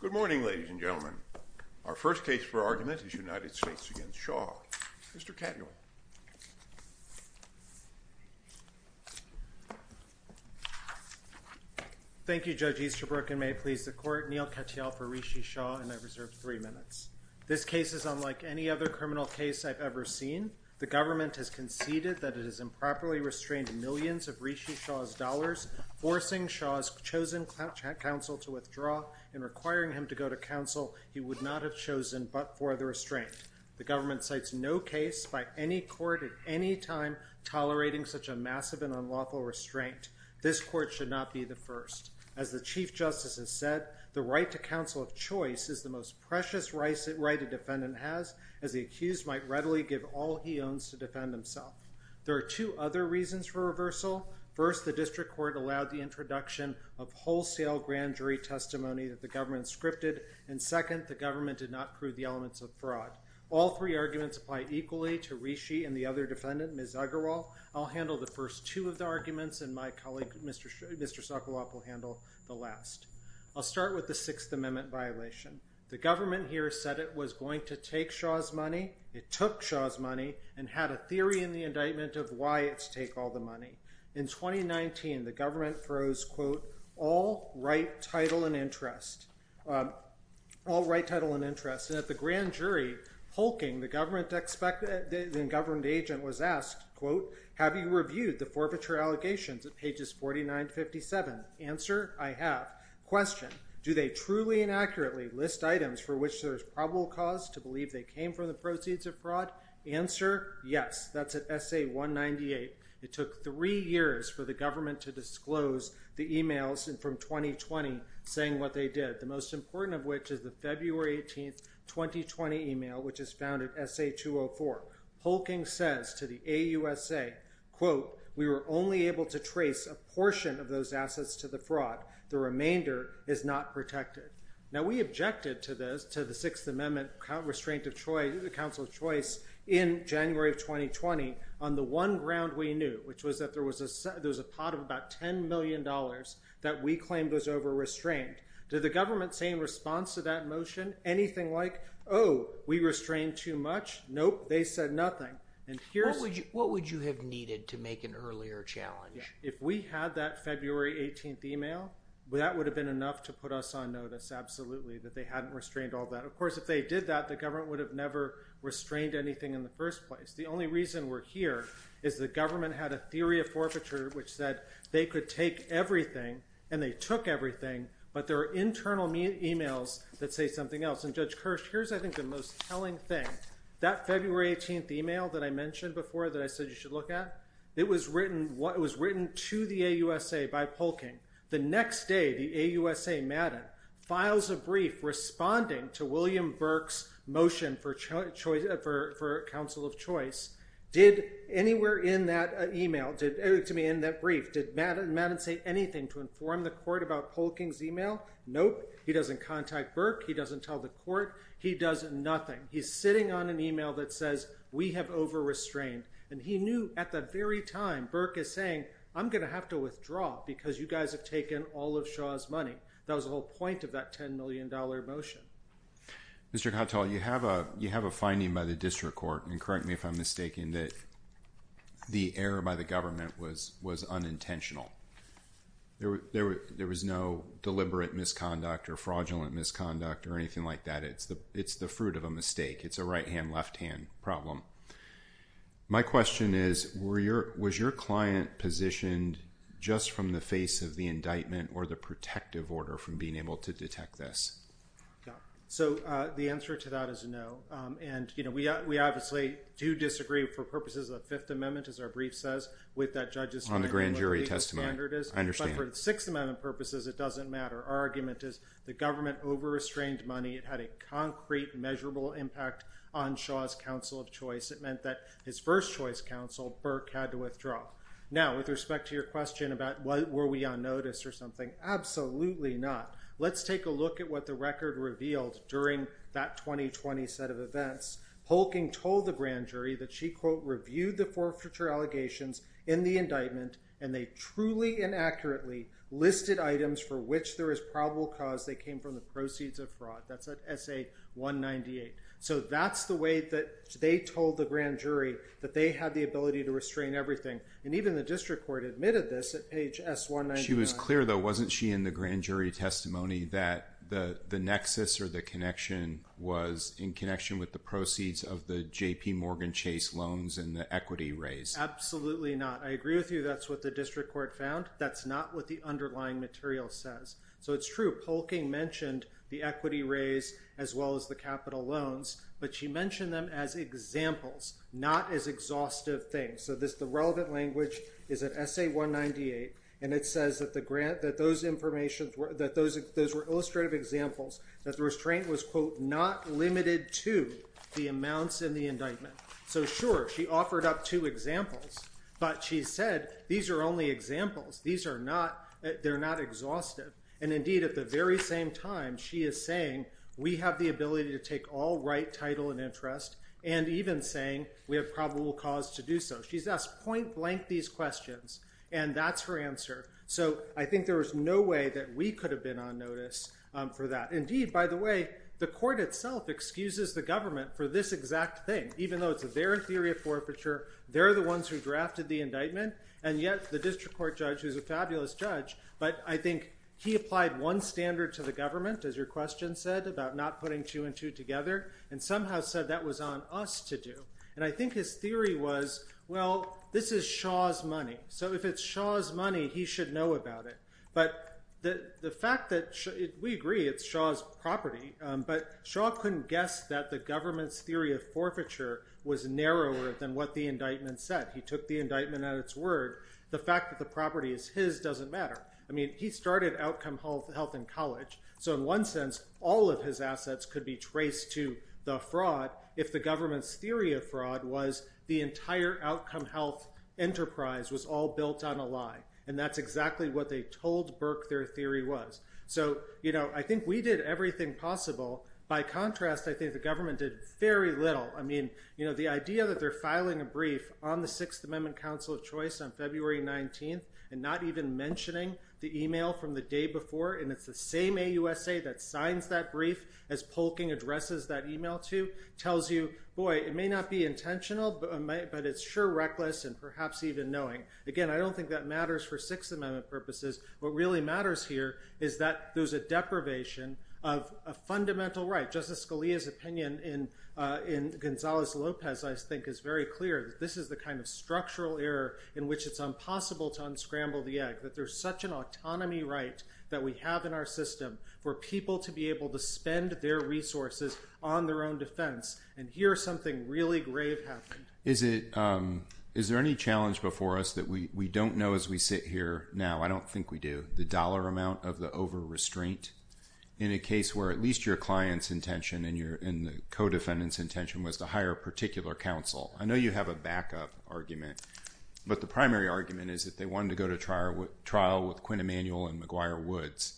Good morning, ladies and gentlemen. Our first case for argument is United States against Shaw. Mr. Catnall. Thank you, Judge Easterbrook, and may it please the court, Neal Katyal for Rishi Shah, and I reserve three minutes. This case is unlike any other criminal case I've ever seen. The government has conceded that it has improperly restrained millions of Rishi Shah's chosen counsel to withdraw and requiring him to go to counsel he would not have chosen but for the restraint. The government cites no case by any court at any time tolerating such a massive and unlawful restraint. This court should not be the first. As the Chief Justice has said, the right to counsel of choice is the most precious right a defendant has, as the accused might readily give all he owns to defend himself. There are two other reasons for reversal. First, the district court allowed the introduction of wholesale grand jury testimony that the government scripted, and second, the government did not prove the elements of fraud. All three arguments apply equally to Rishi and the other defendant, Ms. Uggerwalt. I'll handle the first two of the arguments and my colleague, Mr. Sokoloff, will handle the last. I'll start with the Sixth Amendment violation. The government here said it was going to take Shaw's money, it took Shaw's money, and had a theory in the indictment of why it's take all the money. In 2019, the government throws, quote, all right title and interest. All right title and interest. At the grand jury, hulking, the government expected, the governed agent was asked, quote, have you reviewed the forfeiture allegations at pages 49-57? Answer, I have. Question, do they truly and accurately list items for which there's probable cause to believe they came from the proceeds of fraud? Answer, yes. That's at SA-198. It took three years for the government to disclose the emails from 2020 saying what they did, the most important of which is the February 18th, 2020 email, which is found at SA-204. Hulking says to the AUSA, quote, we were only able to trace a portion of those assets to the fraud. The remainder is not protected. Now, we objected to this, to the Sixth Amendment Restraint of Choice, the Council of Choice, in January of 2020 on the one ground we knew, which was that there was a pot of about ten million dollars that we claimed was over-restrained. Did the government say in response to that motion anything like, oh, we restrained too much? Nope, they said nothing. And here's... What would you have needed to make an earlier challenge? If we had that February 18th email, well, that would have been enough to put us on notice, absolutely, that they hadn't restrained all that. Of course, if they did that, the government would have never restrained anything in the first place. The only reason we're here is the government had a theory of forfeiture which said they could take everything, and they took everything, but there are internal emails that say something else. And Judge Kirsch, here's, I think, the most telling thing. That February 18th email that I mentioned before that I said you should look at, it was written to the AUSA by Polking. The next day, the AUSA, Madden, files a brief responding to William Burke's motion for Council of Choice. Did anywhere in that email, to me, in that brief, did Madden say anything to inform the court about Polking's email? Nope. He doesn't contact Burke. He doesn't tell the court. He does nothing. He's sitting on an email that says, we have over-restrained, and he knew at that very time, Burke is saying, I'm gonna have to withdraw because you guys have taken all of Shaw's money. That was the whole point of that $10 million motion. Mr. Kotel, you have a finding by the district court, and correct me if I'm mistaken, that the error by the government was unintentional. There was no deliberate misconduct or fraudulent misconduct or anything like that. It's the fruit of a mistake. It's a right-hand, left-hand problem. My question is, was your client positioned just from the face of the indictment or the protective order from being able to detect this? So the answer to that is no, and you know, we obviously do disagree for purposes of the Fifth Amendment, as our brief says, with that judge's time. On the grand jury testimony, I understand. But for the Sixth Amendment purposes, it doesn't matter. Our argument is the government over-restrained money. It had a concrete, measurable impact on Shaw's counsel of choice. It meant that his first choice counsel, Burke, had to withdraw. Now, with respect to your question about were we on notice or something, absolutely not. Let's take a look at what the record revealed during that 2020 set of events. Holking told the grand jury that she, quote, reviewed the forfeiture allegations in the indictment, and they truly and accurately listed items for which there is probable cause. They came from the proceeds of fraud. That's at S.A. 198. So that's the way that they told the grand jury that they had the ability to restrain everything. And even the district court admitted this at page S.199. It was clear, though, wasn't she, in the grand jury testimony that the nexus or the connection was in connection with the proceeds of the J.P. Morgan Chase loans and the equity raise? Absolutely not. I agree with you. That's what the district court found. That's not what the underlying material says. So it's true. Holking mentioned the equity raise as well as the capital loans, but she mentioned them as examples, not as exhaustive things. So the relevant language is at S.A. 198, and it says that those were illustrative examples, that the restraint was, quote, not limited to the amounts in the indictment. So, sure, she offered up two examples, but she said these are only examples. These are not, they're not exhaustive. And indeed, at the very same time, she is saying we have the ability to take all right title and interest and even saying we have probable cause to do so. She's asked point blank these questions and that's her answer. So I think there was no way that we could have been on notice for that. Indeed, by the way, the court itself excuses the government for this exact thing, even though it's their theory of forfeiture. They're the ones who drafted the indictment. And yet the district court judge, who's a fabulous judge, but I think he applied one standard to the government, as your question said, about not putting two and two together and somehow said that was on us to do. And I think his theory was, well, this is Shaw's money, so if it's Shaw's money, he should know about it. But the fact that, we agree, it's Shaw's property, but Shaw couldn't guess that the government's theory of forfeiture was narrower than what the indictment said. He took the indictment at its word. The fact that the property is his doesn't matter. I mean, he started Outcome Health in college. So in one sense, all of his assets could be traced to the fraud if the government's theory of fraud was the entire Outcome Health enterprise was all built on a lie. And that's exactly what they told Burke their theory was. So, you know, I think we did everything possible. By contrast, I think the government did very little. I mean, you know, the idea that they're filing a brief on the Sixth Amendment Council of Choice on February 19th and not even mentioning the email from the day before. And it's the same AUSA that signs that brief as Polking addresses that email to tells you, boy, it may not be intentional, but it's sure reckless and perhaps even knowing. Again, I don't think that matters for Sixth Amendment purposes. What really matters here is that there's a deprivation of a fundamental right. Justice Scalia's opinion in in Gonzalez Lopez, I think, is very clear that this is the kind of structural error in which it's impossible to unscramble the egg, that there's such an autonomy right that we have in our system for people to be able to spend their resources on their own defense. And here's something really grave. Is it is there any challenge before us that we don't know as we sit here now? I don't think we do the dollar amount of the over restraint in a case where at least your client's intention and your co-defendants intention was to hire a particular counsel. I know you have a backup argument, but the primary argument is that they wanted to go to trial with trial with Quinn Emanuel and McGuire Woods.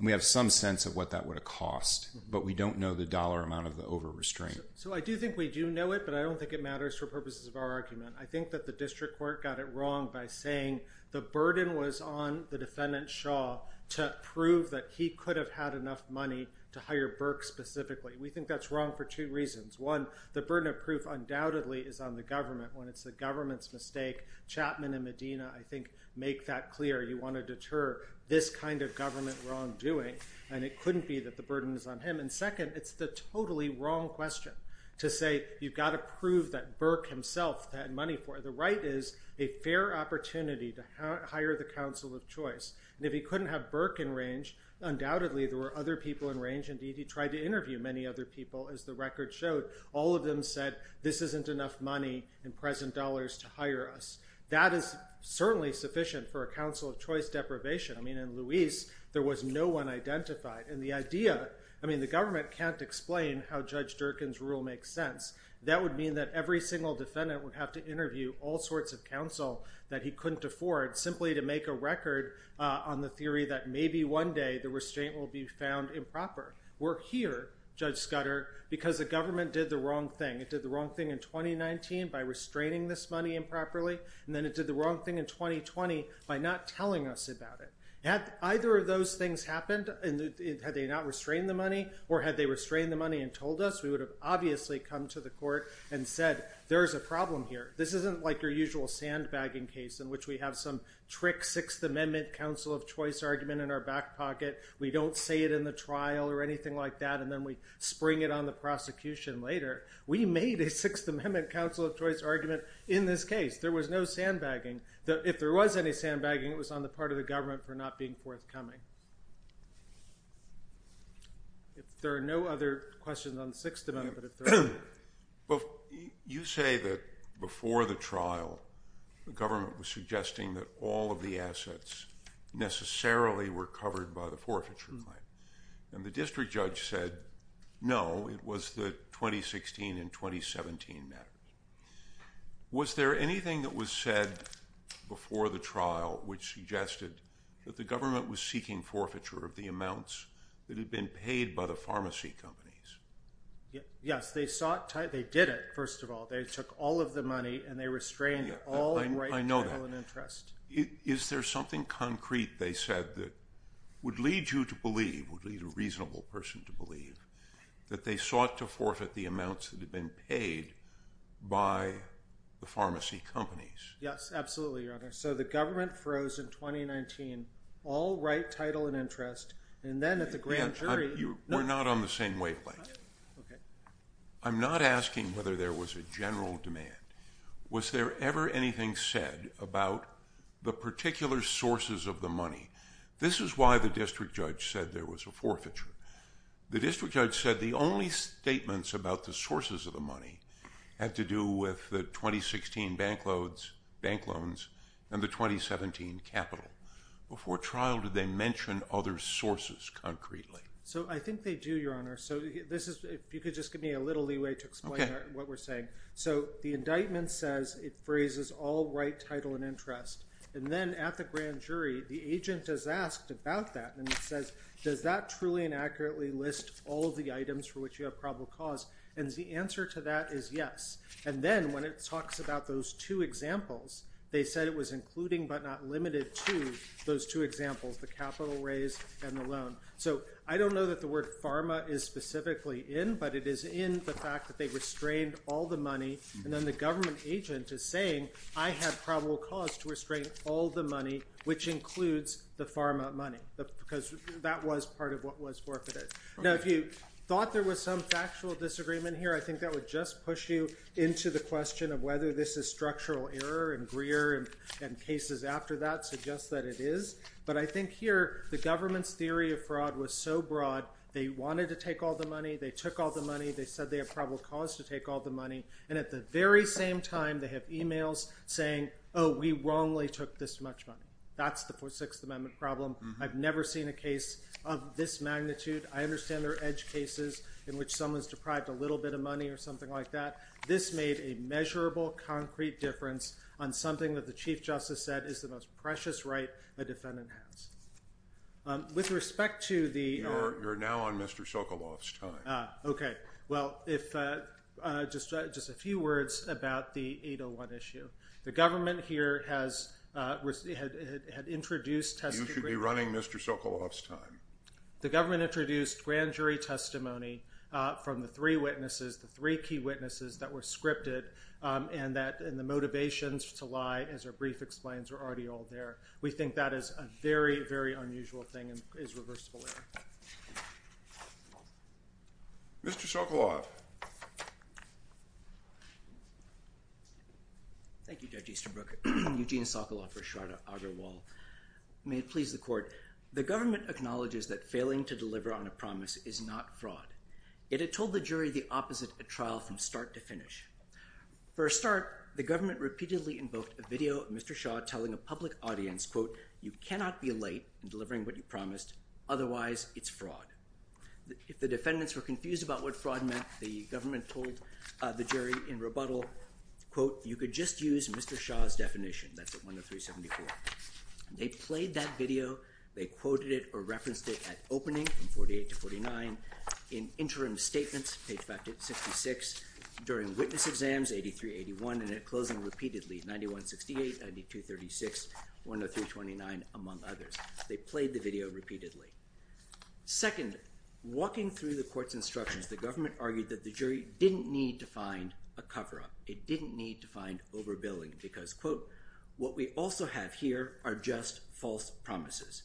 We have some sense of what that would have cost, but we don't know the dollar amount of the over restraint. So I do think we do know it, but I don't think it matters for purposes of our argument. I think that the district court got it wrong by saying the burden was on the defendant, Shaw, to prove that he could have had enough money to hire Burke specifically. We think that's wrong for two reasons. One, the burden of proof undoubtedly is on the government. When it's the government's mistake, Chapman and Medina, I think, make that clear. You want to deter this kind of government wrongdoing. And it couldn't be that the burden is on him. And second, it's the totally wrong question to say, you've got to prove that Burke himself had money for it. The right is a fair opportunity to hire the counsel of choice. If he couldn't have Burke in range, undoubtedly there were other people in range. Indeed, he tried to interview many other people, as the record showed. All of them said, this isn't enough money in present dollars to hire us. That is certainly sufficient for a counsel of choice deprivation. I mean, in Luis, there was no one identified. And the idea, I mean, the government can't explain how Judge Durkin's rule makes sense. That would mean that every single defendant would have to interview all sorts of counsel that he couldn't afford simply to make a record on the theory that maybe one day the restraint will be found improper. We're here, Judge Scudder, because the government did the wrong thing. It did the wrong thing in 2019 by restraining this money improperly. And then it did the wrong thing in 2020 by not telling us about it. Had either of those things happened, and had they not restrained the money, or had they restrained the money and told us, we would have obviously come to the court and said, there's a problem here. This isn't like your usual sandbagging case in which we have some trick Sixth Amendment counsel of choice argument in our back pocket. We don't say it in the trial or anything like that. And then we spring it on the prosecution later. We made a Sixth Amendment counsel of choice argument in this case. There was no sandbagging. If there was any sandbagging, it was on the part of the government for not being forthcoming. There are no other questions on the Sixth Amendment. You say that before the trial, the government was suggesting that all of the assets necessarily were covered by the forfeiture claim. And the district judge said, no, it was the 2016 and 2017 matter. Was there anything that was said before the trial which suggested that the government was seeking forfeiture of the amounts that had been paid by the pharmacy companies? Yes, they sought, they did it, first of all. They took all of the money and they restrained all right to have an interest. Is there something concrete, they said, that would lead you to believe, would lead a reasonable person to believe, that they sought to forfeit the amounts that had been paid? By the pharmacy companies. Yes, absolutely, your honor. So the government froze in 2019, all right, title and interest. And then at the grand jury. You were not on the same wavelength. I'm not asking whether there was a general demand. Was there ever anything said about the particular sources of the money? This is why the district judge said there was a forfeiture. The district judge said the only statements about the sources of the money had to do with the 2016 bank loans and the 2017 capital. Before trial, did they mention other sources concretely? So I think they do, your honor. So this is, if you could just give me a little leeway to explain what we're saying. So the indictment says it phrases all right, title and interest. And then at the grand jury, the agent is asked about that. And it says, does that truly and accurately list all of the items for which you have probable cause? And the answer to that is yes. And then when it talks about those two examples, they said it was including but not limited to those two examples, the capital raise and the loan. So I don't know that the word pharma is specifically in, but it is in the fact that they restrained all the money. And then the government agent is saying, I have probable cause to restrain all the money, which includes the pharma money. Because that was part of what was forfeited. Now, if you thought there was some factual disagreement here, I think that would just push you into the question of whether this is structural error and Greer and cases after that suggest that it is. But I think here, the government's theory of fraud was so broad, they wanted to take all the money. They took all the money. They said they have probable cause to take all the money. And at the very same time, they have emails saying, oh, we wrongly took this much money. That's the Sixth Amendment problem. I've never seen a case of this magnitude. I understand there are edge cases in which someone's deprived a little bit of money or something like that. This made a measurable, concrete difference on something that the Chief Justice said is the most precious right a defendant has. With respect to the. You're now on Mr. Sokoloff's time. Okay. Well, if just just a few words about the 801 issue, the government here has had introduced. You should be running Mr. Sokoloff's time. The government introduced grand jury testimony from the three witnesses, the three key witnesses that were scripted and that and the motivations to lie, as our brief explains, are already all there. We think that is a very, very unusual thing and is reversible. Mr. Sokoloff. Thank you, Judge Easterbrook. Eugene Sokoloff for Shraddha Agarwal. May it please the court. The government acknowledges that failing to deliver on a promise is not fraud. It had told the jury the opposite at trial from start to finish. For a start, the government repeatedly invoked a video of Mr. Shaw telling a public audience, quote, you cannot be late in delivering what you promised. Otherwise, it's fraud. If the defendants were confused about what fraud meant, the government told the jury in rebuttal, quote, you could just use Mr. Shaw's definition. That's at 103.74. They played that video. They quoted it or referenced it at opening, from 48 to 49, in interim statements, page 66, during witness exams, 83, 81, and at closing repeatedly, 91.68, 92.36, 103.29, among others. They played the video repeatedly. Second, walking through the court's instructions, the government argued that the jury didn't need to find a cover up. It didn't need to find overbilling because, quote, what we also have here are just false promises.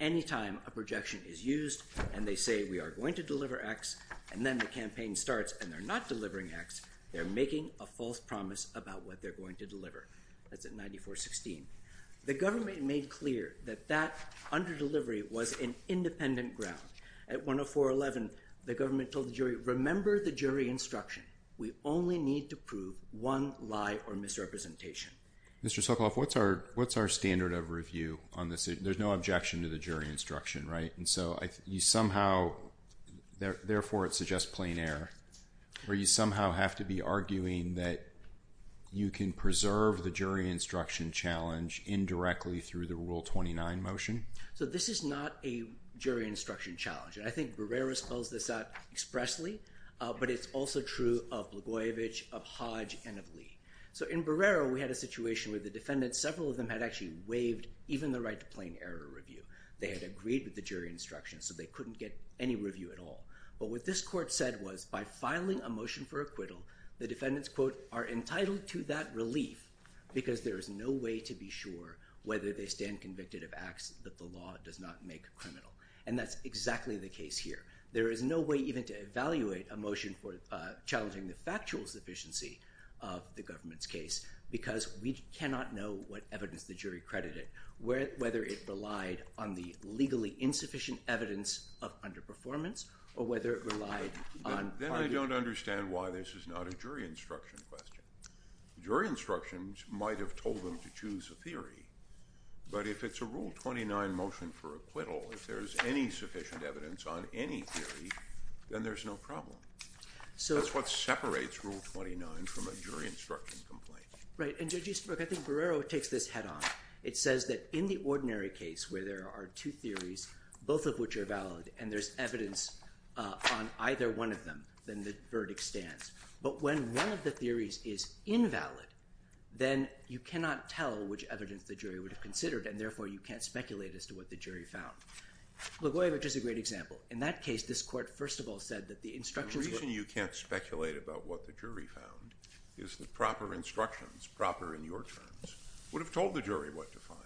Anytime a projection is used and they say we are going to deliver X, and then the campaign starts and they're not delivering X, they're making a false promise about what they're going to deliver. That's at 94.16. The government made clear that that underdelivery was an independent ground. At 104.11, the government told the jury, remember the jury instruction. We only need to prove one lie or misrepresentation. Mr. Sokoloff, what's our standard of review on this? There's no objection to the jury instruction, right? And so you somehow, therefore it suggests plain error. Or you somehow have to be arguing that you can preserve the jury instruction challenge indirectly through the Rule 29 motion? So this is not a jury instruction challenge. And I think Barrera spells this out expressly, but it's also true of Blagojevich, of Hodge, and of Lee. So in Barrera, we had a situation where the defendants, several of them had actually waived even the right to plain error review. They had agreed with the jury instruction, so they couldn't get any review at all. But what this court said was by filing a motion for acquittal, the defendants, quote, are entitled to that relief because there is no way to be sure whether they stand convicted of acts that the law does not make criminal. And that's exactly the case here. There is no way even to evaluate a motion for challenging the factual sufficiency of the government's case because we cannot know what evidence the jury credited, whether it relied on the legally insufficient evidence of underperformance or whether it relied on. Then I don't understand why this is not a jury instruction question. Jury instructions might have told them to choose a theory, but if it's a Rule 29 motion for acquittal, if there's any sufficient evidence on any theory, then there's no problem. So that's what separates Rule 29 from a jury instruction complaint. Right. And Judge Eastbrook, I think Barrera takes this head on. It says that in the ordinary case where there are two theories, both of which are valid, and there's evidence on either one of them, then the verdict stands. But when one of the theories is invalid, then you cannot tell which evidence the jury would have considered, and therefore you can't speculate as to what the jury found. Gligoyevich is a great example. In that case, this court, first of all, said that the instructions. The reason you can't speculate about what the jury found is the proper instructions, proper in your terms, would have told the jury what to find.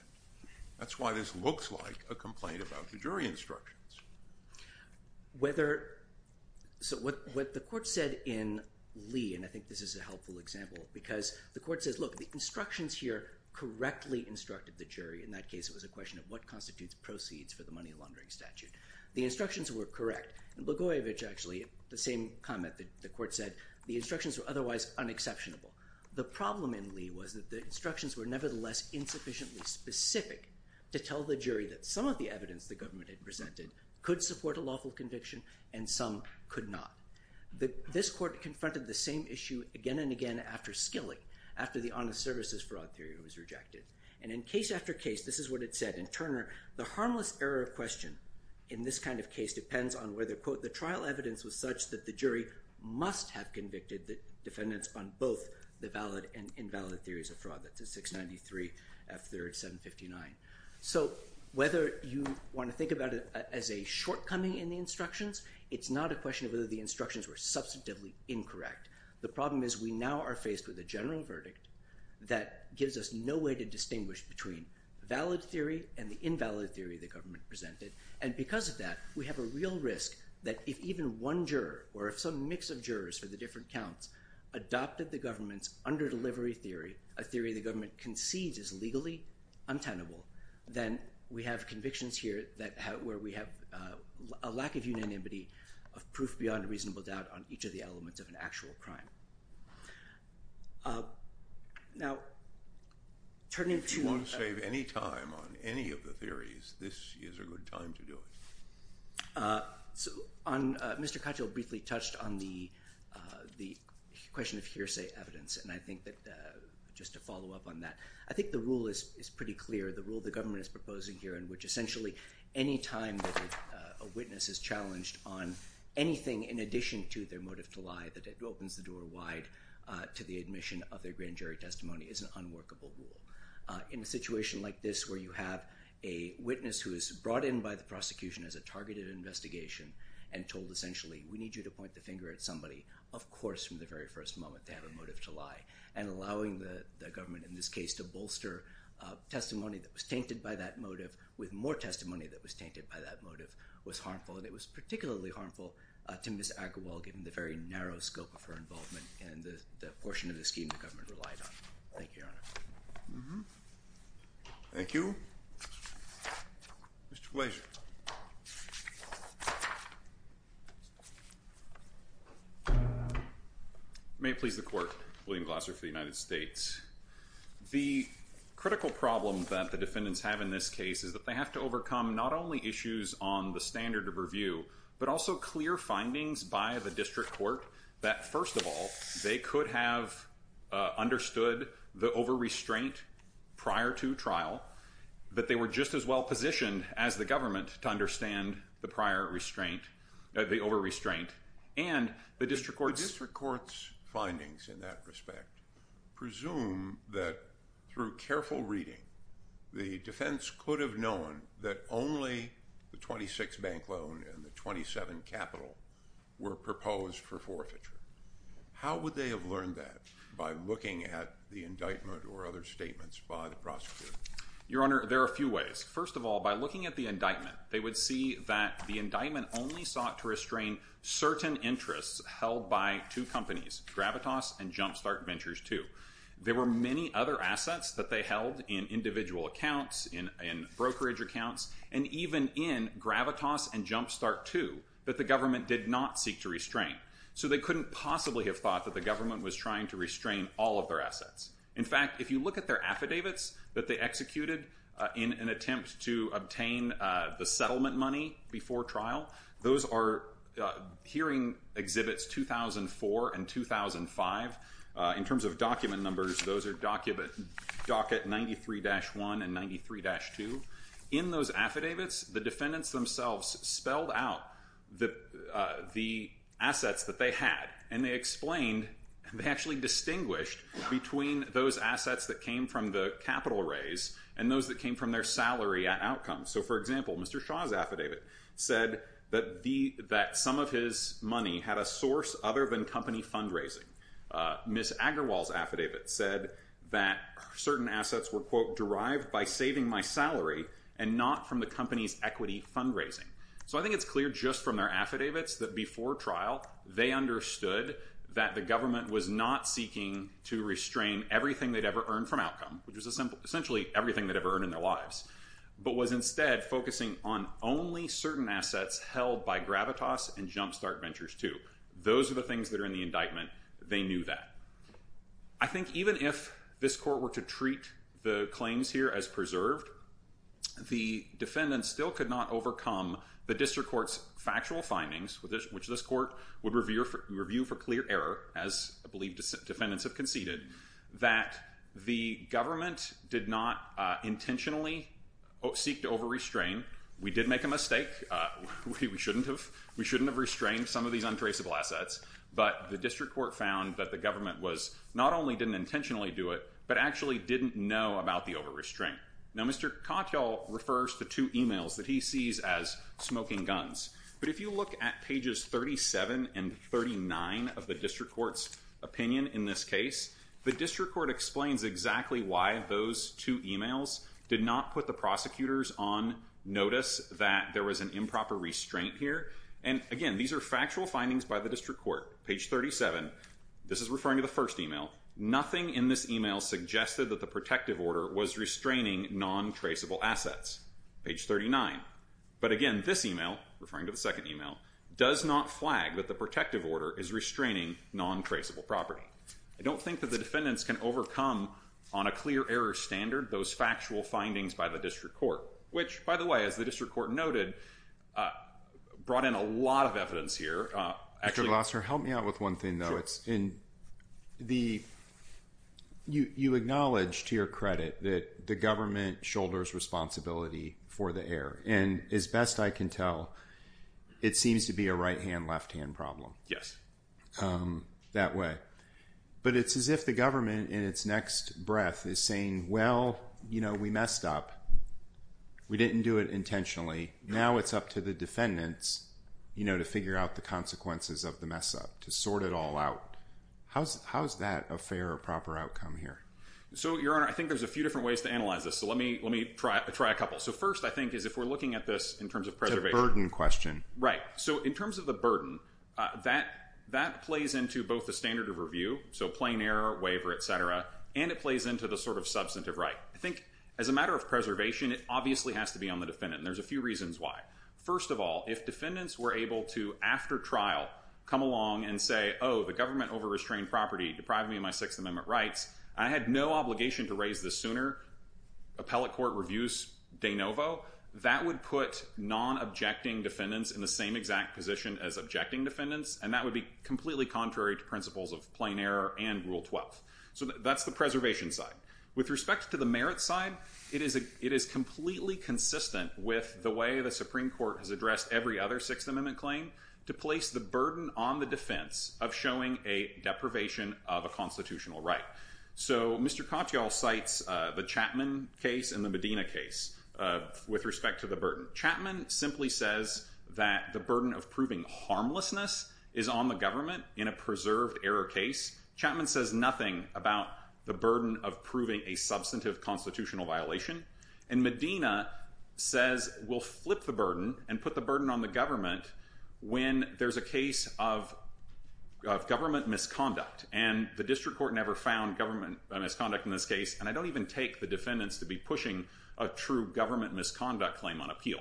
That's why this looks like a complaint about the jury instructions. So what the court said in Lee, and I think this is a helpful example, because the court says, look, the instructions here correctly instructed the jury. In that case, it was a question of what constitutes proceeds for the money laundering statute. The instructions were correct. And Gligoyevich, actually, the same comment that the court said, the instructions were otherwise unexceptionable. The problem in Lee was that the instructions were nevertheless insufficiently specific to tell the jury that some of the evidence the government had presented could support a lawful conviction and some could not. This court confronted the same issue again and again after Skilling, after the Honest Services Fraud Theory was rejected. And in case after case, this is what it said in Turner, the harmless error of question in this kind of case depends on whether, quote, the trial evidence was such that the jury must have convicted the defendants on both the valid and invalid theories of fraud. That's a 693, F3rd, 759. So whether you want to think about it as a shortcoming in the instructions, it's not a question of whether the instructions were substantively incorrect. The problem is we now are faced with a general verdict that gives us no way to distinguish between valid theory and the invalid theory the government presented. And because of that, we have a real risk that if even one juror or if some mix of jurors for the different counts adopted the government's under-delivery theory, a theory the government concedes is legally untenable, then we have convictions here where we have a lack of unanimity of proof beyond reasonable doubt on each of the elements of an actual crime. Now, turning to one save any time on any of the theories, this is a good time to do it. Uh, on Mr. Katyal briefly touched on the, uh, the question of hearsay evidence. And I think that, uh, just to follow up on that, I think the rule is pretty clear. The rule the government is proposing here in which essentially any time that, uh, a witness is challenged on anything in addition to their motive to lie, that opens the door wide, uh, to the admission of their grand jury testimony is an unworkable rule. Uh, in a situation like this where you have a witness who is brought in by the prosecution as a targeted investigation and told essentially, we need you to point the finger at somebody, of course, from the very first moment they have a motive to lie. And allowing the government in this case to bolster, uh, testimony that was tainted by that motive with more testimony that was tainted by that motive was harmful. And it was particularly harmful to miss Agrawal, given the very narrow scope of her involvement and the portion of the scheme the government relied on. Thank you, Your Honor. Thank you. Mr. Blasio. May it please the court, William Glasser for the United States. The critical problem that the defendants have in this case is that they have to overcome not only issues on the standard of review, but also clear findings by the district court that, first of all, they could have, uh, understood the over-restraint prior to trial. But they were just as well positioned as the government to understand the prior restraint, uh, the over-restraint, and the district court's... The district court's findings in that respect presume that, through careful reading, the defense could have known that only the 26 bank loan and the 27 capital were proposed for forfeiture. How would they have learned that by looking at the indictment or other statements by the prosecutor? Your Honor, there are a few ways. First of all, by looking at the indictment, they would see that the indictment only sought to restrain certain interests held by two companies, Gravitas and Jumpstart Ventures 2. There were many other assets that they held in individual accounts, in, in brokerage accounts, and even in Gravitas and Jumpstart 2 that the government did not seek to restrain. So they couldn't possibly have thought that the government was trying to restrain all of their assets. In fact, if you look at their affidavits that they executed, uh, in an attempt to obtain, uh, the settlement money before trial, those are, uh, hearing exhibits 2004 and 2005. Uh, in terms of document numbers, those are document, docket 93-1 and 93-2. In those affidavits, the defendants themselves spelled out the, uh, the assets that they had and they explained, they actually distinguished between those assets that came from the capital raise and those that came from their salary outcomes. So for example, Mr. Shaw's affidavit said that the, that some of his money had a source other than company fundraising. Uh, Ms. Agarwal's affidavit said that certain assets were quote, derived by saving my salary and not from the company's equity fundraising. So I think it's clear just from their affidavits that before trial, they understood that the government was not seeking to restrain everything they'd ever earned from outcome, which was a simple, essentially everything they'd ever earned in their lives, but was instead focusing on only certain assets held by Gravitas and Jumpstart Ventures 2. Those are the things that are in the indictment. They knew that. I think even if this court were to treat the claims here as preserved, the defendants still could not overcome the district court's factual findings with this, which this court would review for review for clear error, as I believe defendants have conceded that the government did not, uh, intentionally seek to over-restrain. We did make a mistake. Uh, we, we shouldn't have, we shouldn't have restrained some of these untraceable assets, but the district court found that the government was not only didn't intentionally do it, but actually didn't know about the over-restraint. Now, Mr. Improper restraint here, and again, these are factual findings by the district court, page 37, this is referring to the first email, nothing in this email suggested that the protective order was restraining non-traceable assets, page 39. But again, this email referring to the second email does not flag that the protective order is restraining non-traceable property. I don't think that the defendants can overcome on a clear error standard, those factual findings by the district court, which by the way, as the district court noted, uh, brought in a lot of evidence here. Actually, help me out with one thing though. It's in the, you, you acknowledge to your credit that the government shoulders responsibility for the air. And as best I can tell, it seems to be a right-hand left-hand problem. Yes. Um, that way. But it's as if the government in its next breath is saying, well, you know, we messed up. We didn't do it intentionally. Now it's up to the defendants, you know, to figure out the consequences of the mess up to sort it all out. How's, how's that a fair or proper outcome here? So your honor, I think there's a few different ways to analyze this. So let me, let me try, try a couple. So first I think is if we're looking at this in terms of preservation question, right? So in terms of the burden, uh, that, that plays into both the standard of review. So plain air waiver, et cetera, and it plays into the sort of substantive, right? I think as a matter of preservation, it obviously has to be on the defendant. And there's a few reasons why, first of all, if defendants were able to, after trial come along and say, oh, the government over restrained property, depriving me of my sixth amendment rights, I had no obligation to raise this sooner. Appellate court reviews de novo, that would put non-objecting defendants in the same exact position as objecting defendants. And that would be completely contrary to principles of plain air and rule 12. So that's the preservation side. With respect to the merit side, it is a, it is completely consistent with the way the Supreme Court has addressed every other sixth amendment claim to place the burden on the defense of showing a deprivation of a constitutional right. So Mr. Katyal cites, uh, the Chapman case and the Medina case, uh, with respect to the burden. Chapman simply says that the burden of proving harmlessness is on the government in a preserved error case. Chapman says nothing about the burden of proving a substantive constitutional violation. And Medina says we'll flip the burden and put the burden on the government when there's a case of, of government misconduct. And the district court never found government misconduct in this case. And I don't even take the defendants to be pushing a true government misconduct claim on appeal.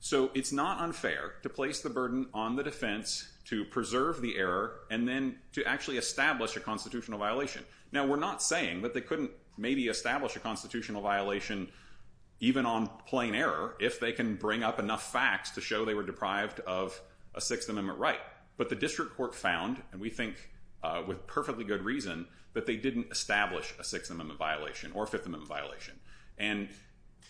So it's not unfair to place the burden on the defense to preserve the error and then to actually establish a constitutional violation. Now, we're not saying that they couldn't maybe establish a constitutional violation even on plain error if they can bring up enough facts to show they were deprived of a sixth amendment right. But the district court found, and we think, uh, with perfectly good reason that they didn't establish a sixth amendment violation or fifth amendment violation. And,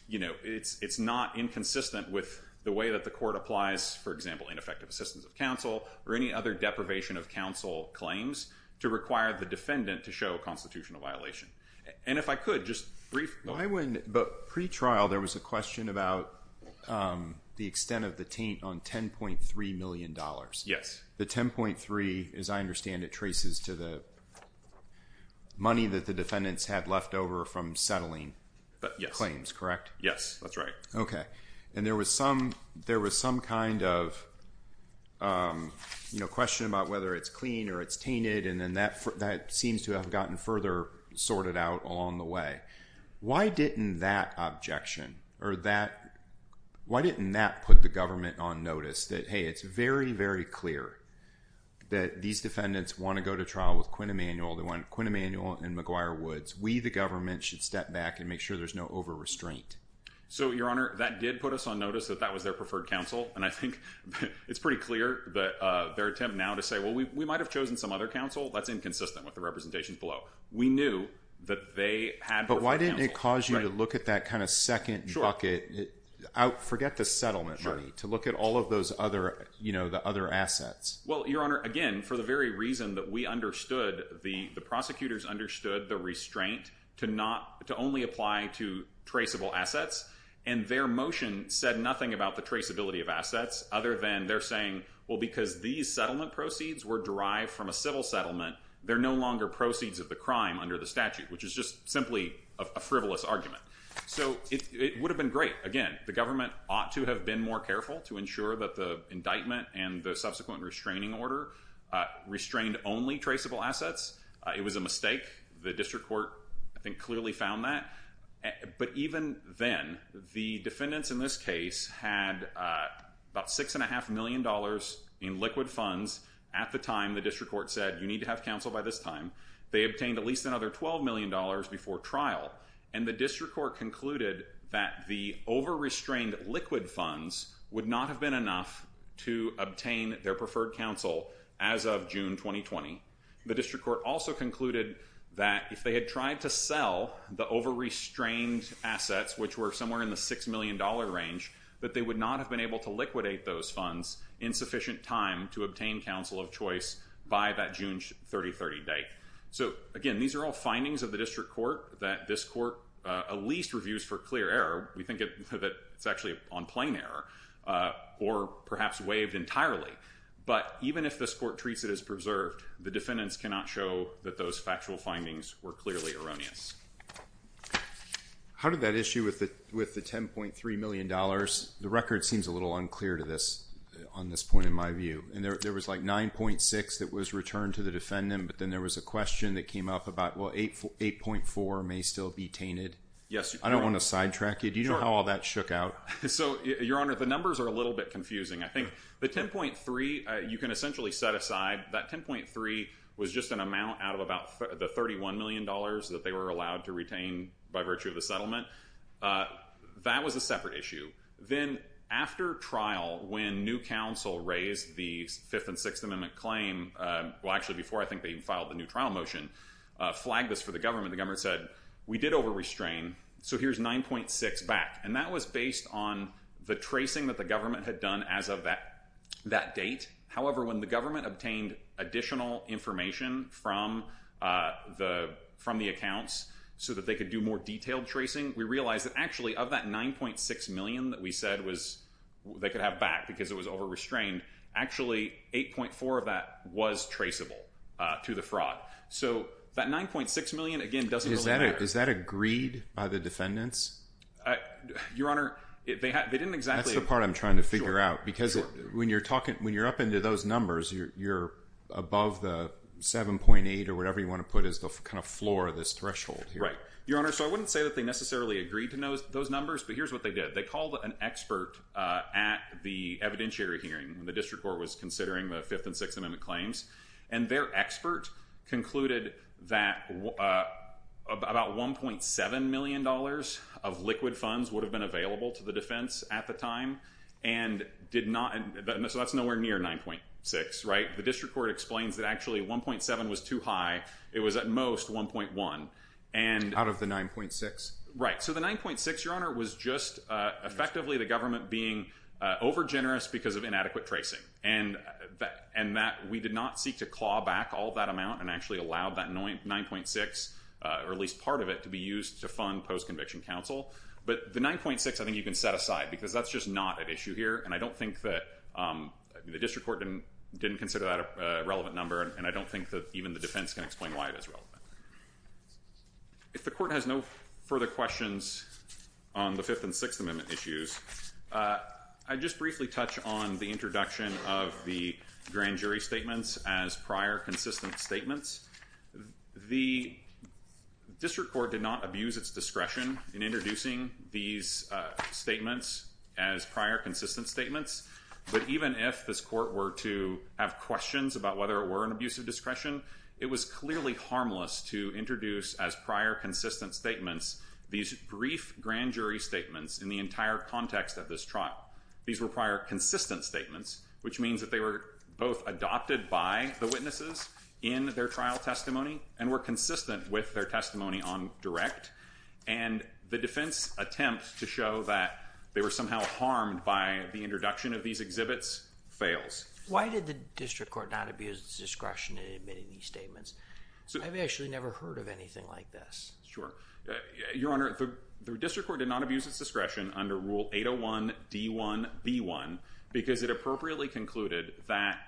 you know, it's, it's not inconsistent with the way that the court applies, for example, ineffective assistance of counsel or any other deprivation of counsel claims to require the defendant to show a constitutional violation. And if I could just brief. Why wouldn't, but pre-trial there was a question about, um, the extent of the taint on $10.3 million. Yes. The 10.3, as I understand it traces to the money that the defendants had left over from settling claims, correct? Yes, that's right. Okay. And there was some, there was some kind of, um, you know, question about whether it's clean or it's tainted. And then that, that seems to have gotten further sorted out along the way. Why didn't that objection or that, why didn't that put the government on notice that, Hey, it's very, very clear that these defendants want to go to trial with Quinn Emanuel, the one Quinn Emanuel and McGuire Woods, we, the government should step back and make sure there's no over restraint. So your honor, that did put us on notice that that was their preferred counsel. And I think it's pretty clear that, uh, their attempt now to say, well, we, we might've chosen some other counsel. That's inconsistent with the representations below. We knew that they had, but why didn't it cause you to look at that kind of second bucket out, forget the settlement money to look at all of those other, you know, the other assets. Well, your honor, again, for the very reason that we understood the, the prosecutors understood the restraint to not, to only apply to traceable assets and their motion said nothing about the traceability of assets other than they're saying, well, because these settlement proceeds were derived from a civil settlement. They're no longer proceeds of the crime under the statute, which is just simply a frivolous argument. So it would have been great. Again, the government ought to have been more careful to ensure that the indictment and the subsequent restraining order, uh, restrained only traceable assets. Uh, it was a mistake. The district court, I think clearly found that, but even then the defendants in this case had, uh, about six and a half million dollars in liquid funds at the time the district court said, you need to have counsel by this time they obtained at least another $12 million before trial. And the district court concluded that the over restrained liquid funds would not have been enough to obtain their preferred counsel as of June, 2020, the district court also concluded that if they had tried to sell the over restrained assets, which were somewhere in the $6 million range, that they would not have been able to liquidate those funds in sufficient time to obtain counsel of choice by that June 30, 30 date. So again, these are all findings of the district court that this court, uh, at least reviews for clear error. We think that it's actually on plain error, uh, or perhaps waived entirely, but even if this court treats it as preserved, the defendants cannot show that those factual findings were clearly erroneous. How did that issue with the, with the $10.3 million? The record seems a little unclear to this on this point, in my view, and there, there was like 9.6 that was returned to the defendant, but then there was a question that came up about, well, eight, 8.4 may still be tainted. Yes. I don't want to sidetrack it. You know how all that shook out. So your honor, the numbers are a little bit confusing. I think the 10.3, uh, you can essentially set aside that 10.3 was just an amount out of about the $31 million that they were allowed to retain by virtue of the settlement. Uh, that was a separate issue. Then after trial, when new council raised the fifth and sixth amendment claim, uh, well actually before I think they even filed the new trial motion, uh, flagged this for the government, the government said, we did over restrain. So here's 9.6 back. And that was based on the tracing that the government had done as of that, that date. However, when the government obtained additional information from, uh, the, from the accounts so that they could do more detailed tracing, we realized that actually of that 9.6 million that we said was they could have back because it was over restrained, actually 8.4 of that was traceable, uh, to the fraud. So that 9.6 million, again, doesn't really matter. Is that agreed by the defendants? Uh, your honor, they had, they didn't exactly. That's the part I'm trying to figure out. Because when you're talking, when you're up into those numbers, you're, you're above the 7.8 or whatever you want to put as the kind of floor of this threshold. Right. Your honor. So I wouldn't say that they necessarily agreed to know those numbers, but here's what they did. They called an expert, uh, at the evidentiary hearing, the district court was considering the fifth and sixth amendment claims and their expert concluded that, uh, about $1.7 million of liquid funds would have been available to the defense at the time. And did not, so that's nowhere near 9.6, right? The district court explains that actually 1.7 was too high. It was at most 1.1 and out of the 9.6, right? So the 9.6, your honor was just, uh, effectively the government being, uh, over generous because of inadequate tracing and that, and that we did not seek to claw back all that amount and actually allowed that 9.6, uh, or at least part of it to be used to fund post conviction counsel. But the 9.6, I think you can set aside because that's just not an issue here. And I don't think that, um, the district court didn't, didn't consider that a relevant number. And I don't think that even the defense can explain why it is relevant. If the court has no further questions on the fifth and sixth amendment issues, uh, I just briefly touch on the introduction of the grand jury statements as prior consistent statements. The district court did not abuse its discretion in introducing these, uh, statements as prior consistent statements. But even if this court were to have questions about whether it were an abuse of discretion, it was clearly harmless to introduce as prior consistent statements, these brief grand jury statements in the entire context of this trial, these were prior consistent statements, which means that they were both adopted by the witnesses in their trial testimony and were consistent with their testimony on direct. And the defense attempt to show that they were somehow harmed by the introduction of these exhibits fails. Why did the district court not abuse discretion in admitting these statements? So I've actually never heard of anything like this. Sure. Uh, your honor, the district court did not abuse its discretion under rule 801 D1 B1 because it appropriately concluded that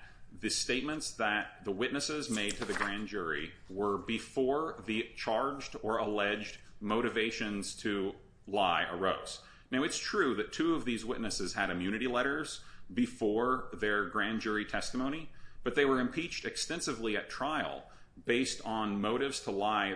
the statements that the witnesses made to the grand jury were before the charged or alleged motivations to lie arose. Now it's true that two of these witnesses had immunity letters before their grand jury testimony, but they were impeached extensively at trial based on motives to lie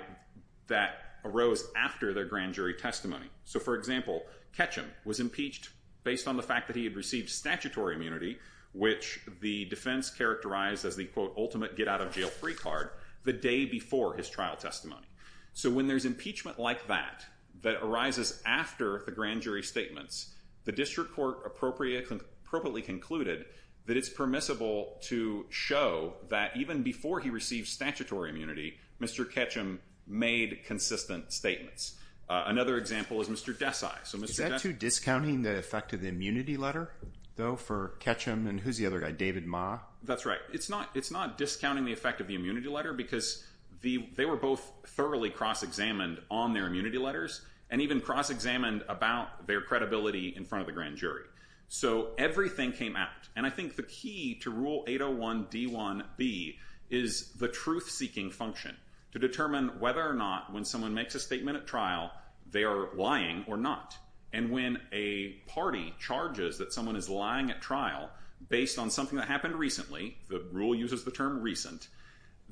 that arose after their grand jury testimony. So for example, Ketchum was impeached based on the fact that he had received statutory immunity, which the defense characterized as the quote ultimate get out of jail free card the day before his trial testimony. So when there's impeachment like that, that arises after the grand jury statements, the district court appropriately concluded that it's permissible to show that even before he received statutory immunity, Mr. Ketchum made consistent statements. Uh, another example is Mr. Desai. So is that too discounting the effect of the immunity letter though for Ketchum and who's the other guy, David Ma? That's right. It's not, it's not discounting the effect of the immunity letter because the, they were both thoroughly cross-examined on their immunity letters and even cross-examined about their credibility in front of the grand jury. So everything came out. And I think the key to rule 801 D1 B is the truth seeking function to determine whether or not when someone makes a statement at trial, they are lying or not. And when a party charges that someone is lying at trial based on something that happened recently, the rule uses the term recent,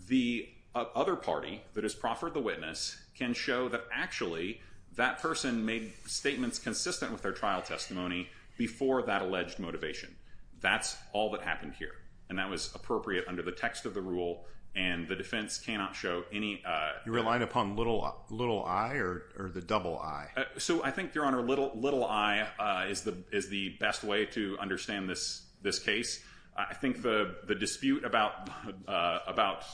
the other party that has proffered the witness can show that actually that person made statements consistent with their trial testimony before that alleged motivation. That's all that happened here. And that was appropriate under the text of the rule. And the defense cannot show any, uh, you're relying upon little, little eye or, or the double eye. So I think your honor, little, little eye, uh, is the, is the best way to understand this, this case. I think the, the dispute about, uh, about,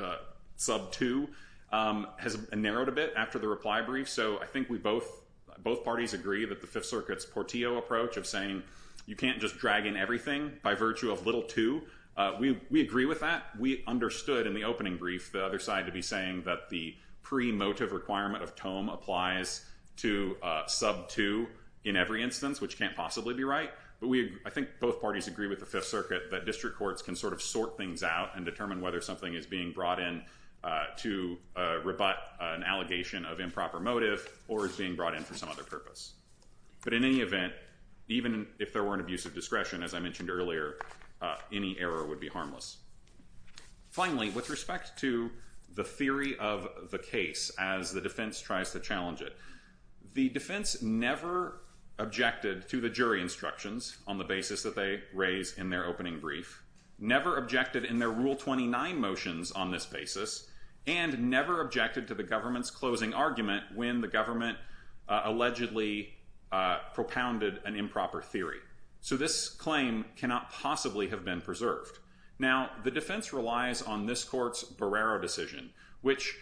uh, sub two, um, has narrowed a bit after the reply brief. So I think we both, both parties agree that the fifth circuits Portillo approach of saying you can't just drag in everything by virtue of little to, uh, we, we agree with that. We understood in the opening brief, the other side to be saying that the pre motive requirement of Tome applies to a sub two in every instance, which can't possibly be right. But we, I think both parties agree with the fifth circuit that district courts can sort of sort things out and determine whether something is being brought in, uh, to, uh, rebut an allegation of improper motive or is being brought in for some other purpose. But in any event, even if there were an abusive discretion, as I mentioned earlier, uh, any error would be harmless. Finally, with respect to the theory of the case, as the defense tries to challenge it, the defense never objected to the jury instructions on the basis that they raise in their opening brief, never objected in their rule 29 motions on this basis, and never objected to the government's closing argument when the government, uh, allegedly, uh, propounded an improper theory. So this claim cannot possibly have been preserved. Now the defense relies on this court's Barrera decision, which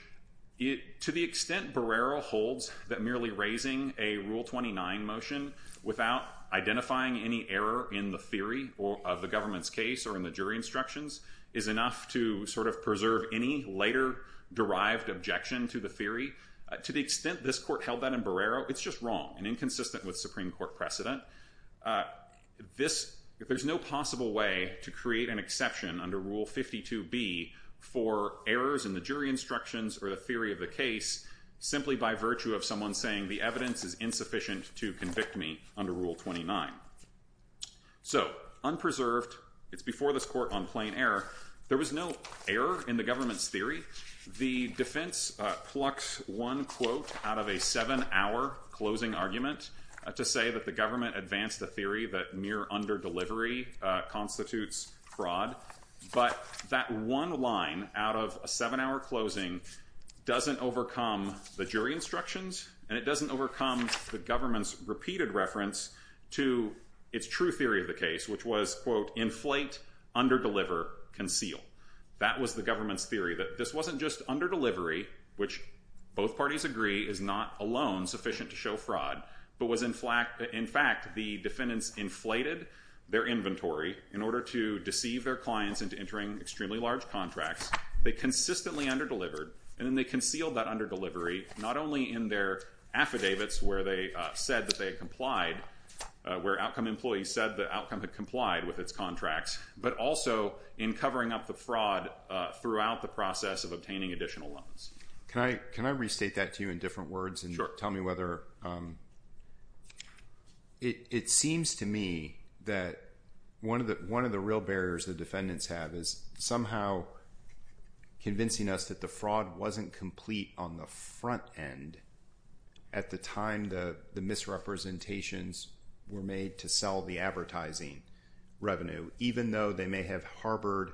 to the extent Barrera holds that merely raising a rule 29 motion without identifying any error in the theory or of the government's case or in the jury instructions is enough to sort of preserve any later derived objection to the theory. To the extent this court held that in Barrera, it's just wrong and inconsistent with Supreme Court precedent. Uh, this, there's no possible way to create an exception under rule 52B for errors in the jury instructions or the theory of the case simply by virtue of someone saying the evidence is insufficient to convict me under rule 29. So unpreserved, it's before this court on plain error, there was no error in the government's theory. The defense, uh, plucks one quote out of a seven hour closing argument to say that the government advanced a theory that near under delivery, uh, constitutes fraud. But that one line out of a seven hour closing doesn't overcome the jury instructions and it doesn't overcome the government's repeated reference to its true theory of the case, which was quote, inflate, under deliver, conceal. That was the government's theory that this wasn't just under delivery, which both parties agree is not alone sufficient to show fraud, but was in fact, in fact, the defendants inflated their inventory in order to deceive their clients into entering extremely large contracts. They consistently under delivered and then they concealed that under delivery, not only in their affidavits where they said that they had complied, uh, where outcome employees said the outcome had complied with its contracts, but also in covering up the fraud, uh, throughout the process of obtaining additional loans. Can I, can I restate that to you in different words and tell me whether, um, it, it seems to me that one of the, one of the real barriers the defendants have is somehow convincing us that the fraud wasn't complete on the front end at the time the misrepresentations were made to sell the advertising revenue, even though they may have harbored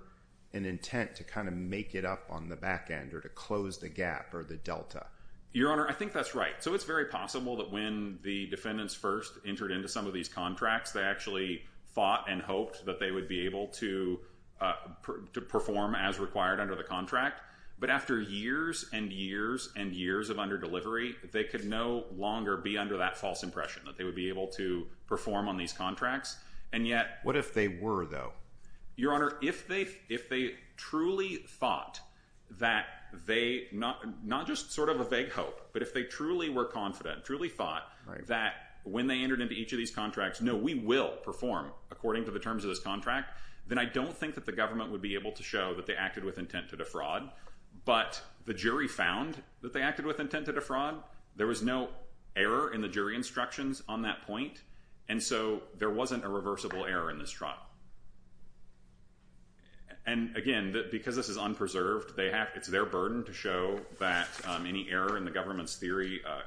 an intent to kind of make it up on the back end or to close the gap or the Delta. Your Honor, I think that's right. So it's very possible that when the defendants first entered into some of these contracts, they actually fought and hoped that they would be able to, uh, to perform as required under the contract. But after years and years and years of under delivery, they could no longer be under that false impression that they would be able to perform on these contracts. And yet what if they were though, your Honor, if they, if they truly thought that they not, not just sort of a vague hope, but if they truly were confident, truly thought that when they entered into each of these contracts, no, we will perform according to the terms of this contract, then I don't think that the government would be able to show that they acted with intent to defraud. But the jury found that they acted with intent to defraud. There was no error in the jury instructions on that point. And so there wasn't a reversible error in this trial. And again, because this is unpreserved, they have, it's their burden to show that, um, any error in the government's theory, uh,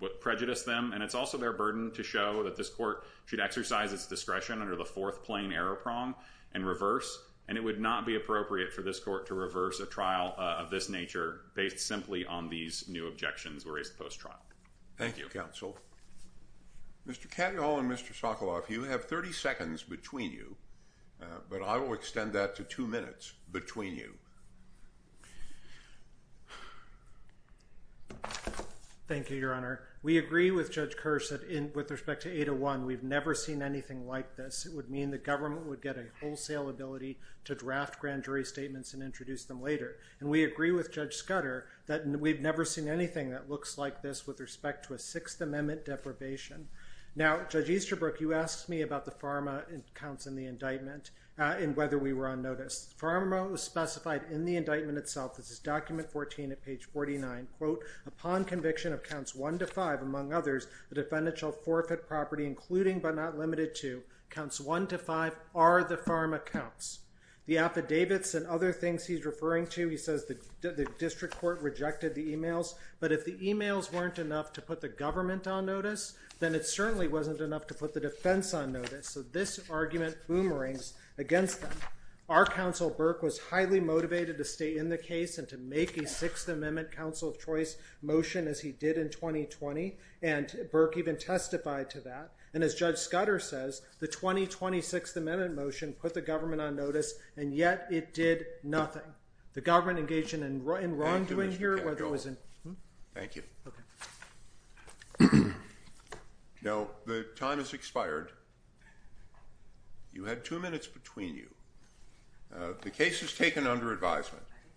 what prejudiced them, and it's also their burden to show that this court should exercise its discretion under the fourth plane error prong and reverse, and it would not be appropriate for this court to reverse a trial of this nature based simply on these new objections were raised post-trial. Thank you, counsel. Mr. Katyal and Mr. Sokoloff, you have 30 seconds between you, but I will extend that to two minutes between you. Thank you, your honor. We agree with judge Kersh that in, with respect to 801, we've never seen anything like this. It would mean the government would get a wholesale ability to draft grand jury statements and introduce them later. And we agree with judge Scudder that we've never seen anything that looks like this with respect to a sixth amendment deprivation. Now, judge Easterbrook, you asked me about the pharma counts in the indictment, uh, and whether we were on notice. Pharma was specified in the indictment itself. This is document 14 at page 49, quote, upon conviction of counts one to five, among others, the defendants shall forfeit property, including, but not limited to counts one to five are the pharma counts. The affidavits and other things he's referring to, he says that the district court rejected the emails, but if the emails weren't enough to put the government on notice, then it certainly wasn't enough to put the defense on notice. So this argument boomerangs against them. Our counsel Burke was highly motivated to stay in the case and to make a sixth amendment council of choice motion as he did in 2020 and Burke even testified to that. And as judge Scudder says, the 2026 amendment motion put the government on notice and yet it did nothing. The government engaged in and in wrongdoing here, whether it was in. Thank you. No, the time has expired. You had two minutes between you. Uh, the case has taken under advisement.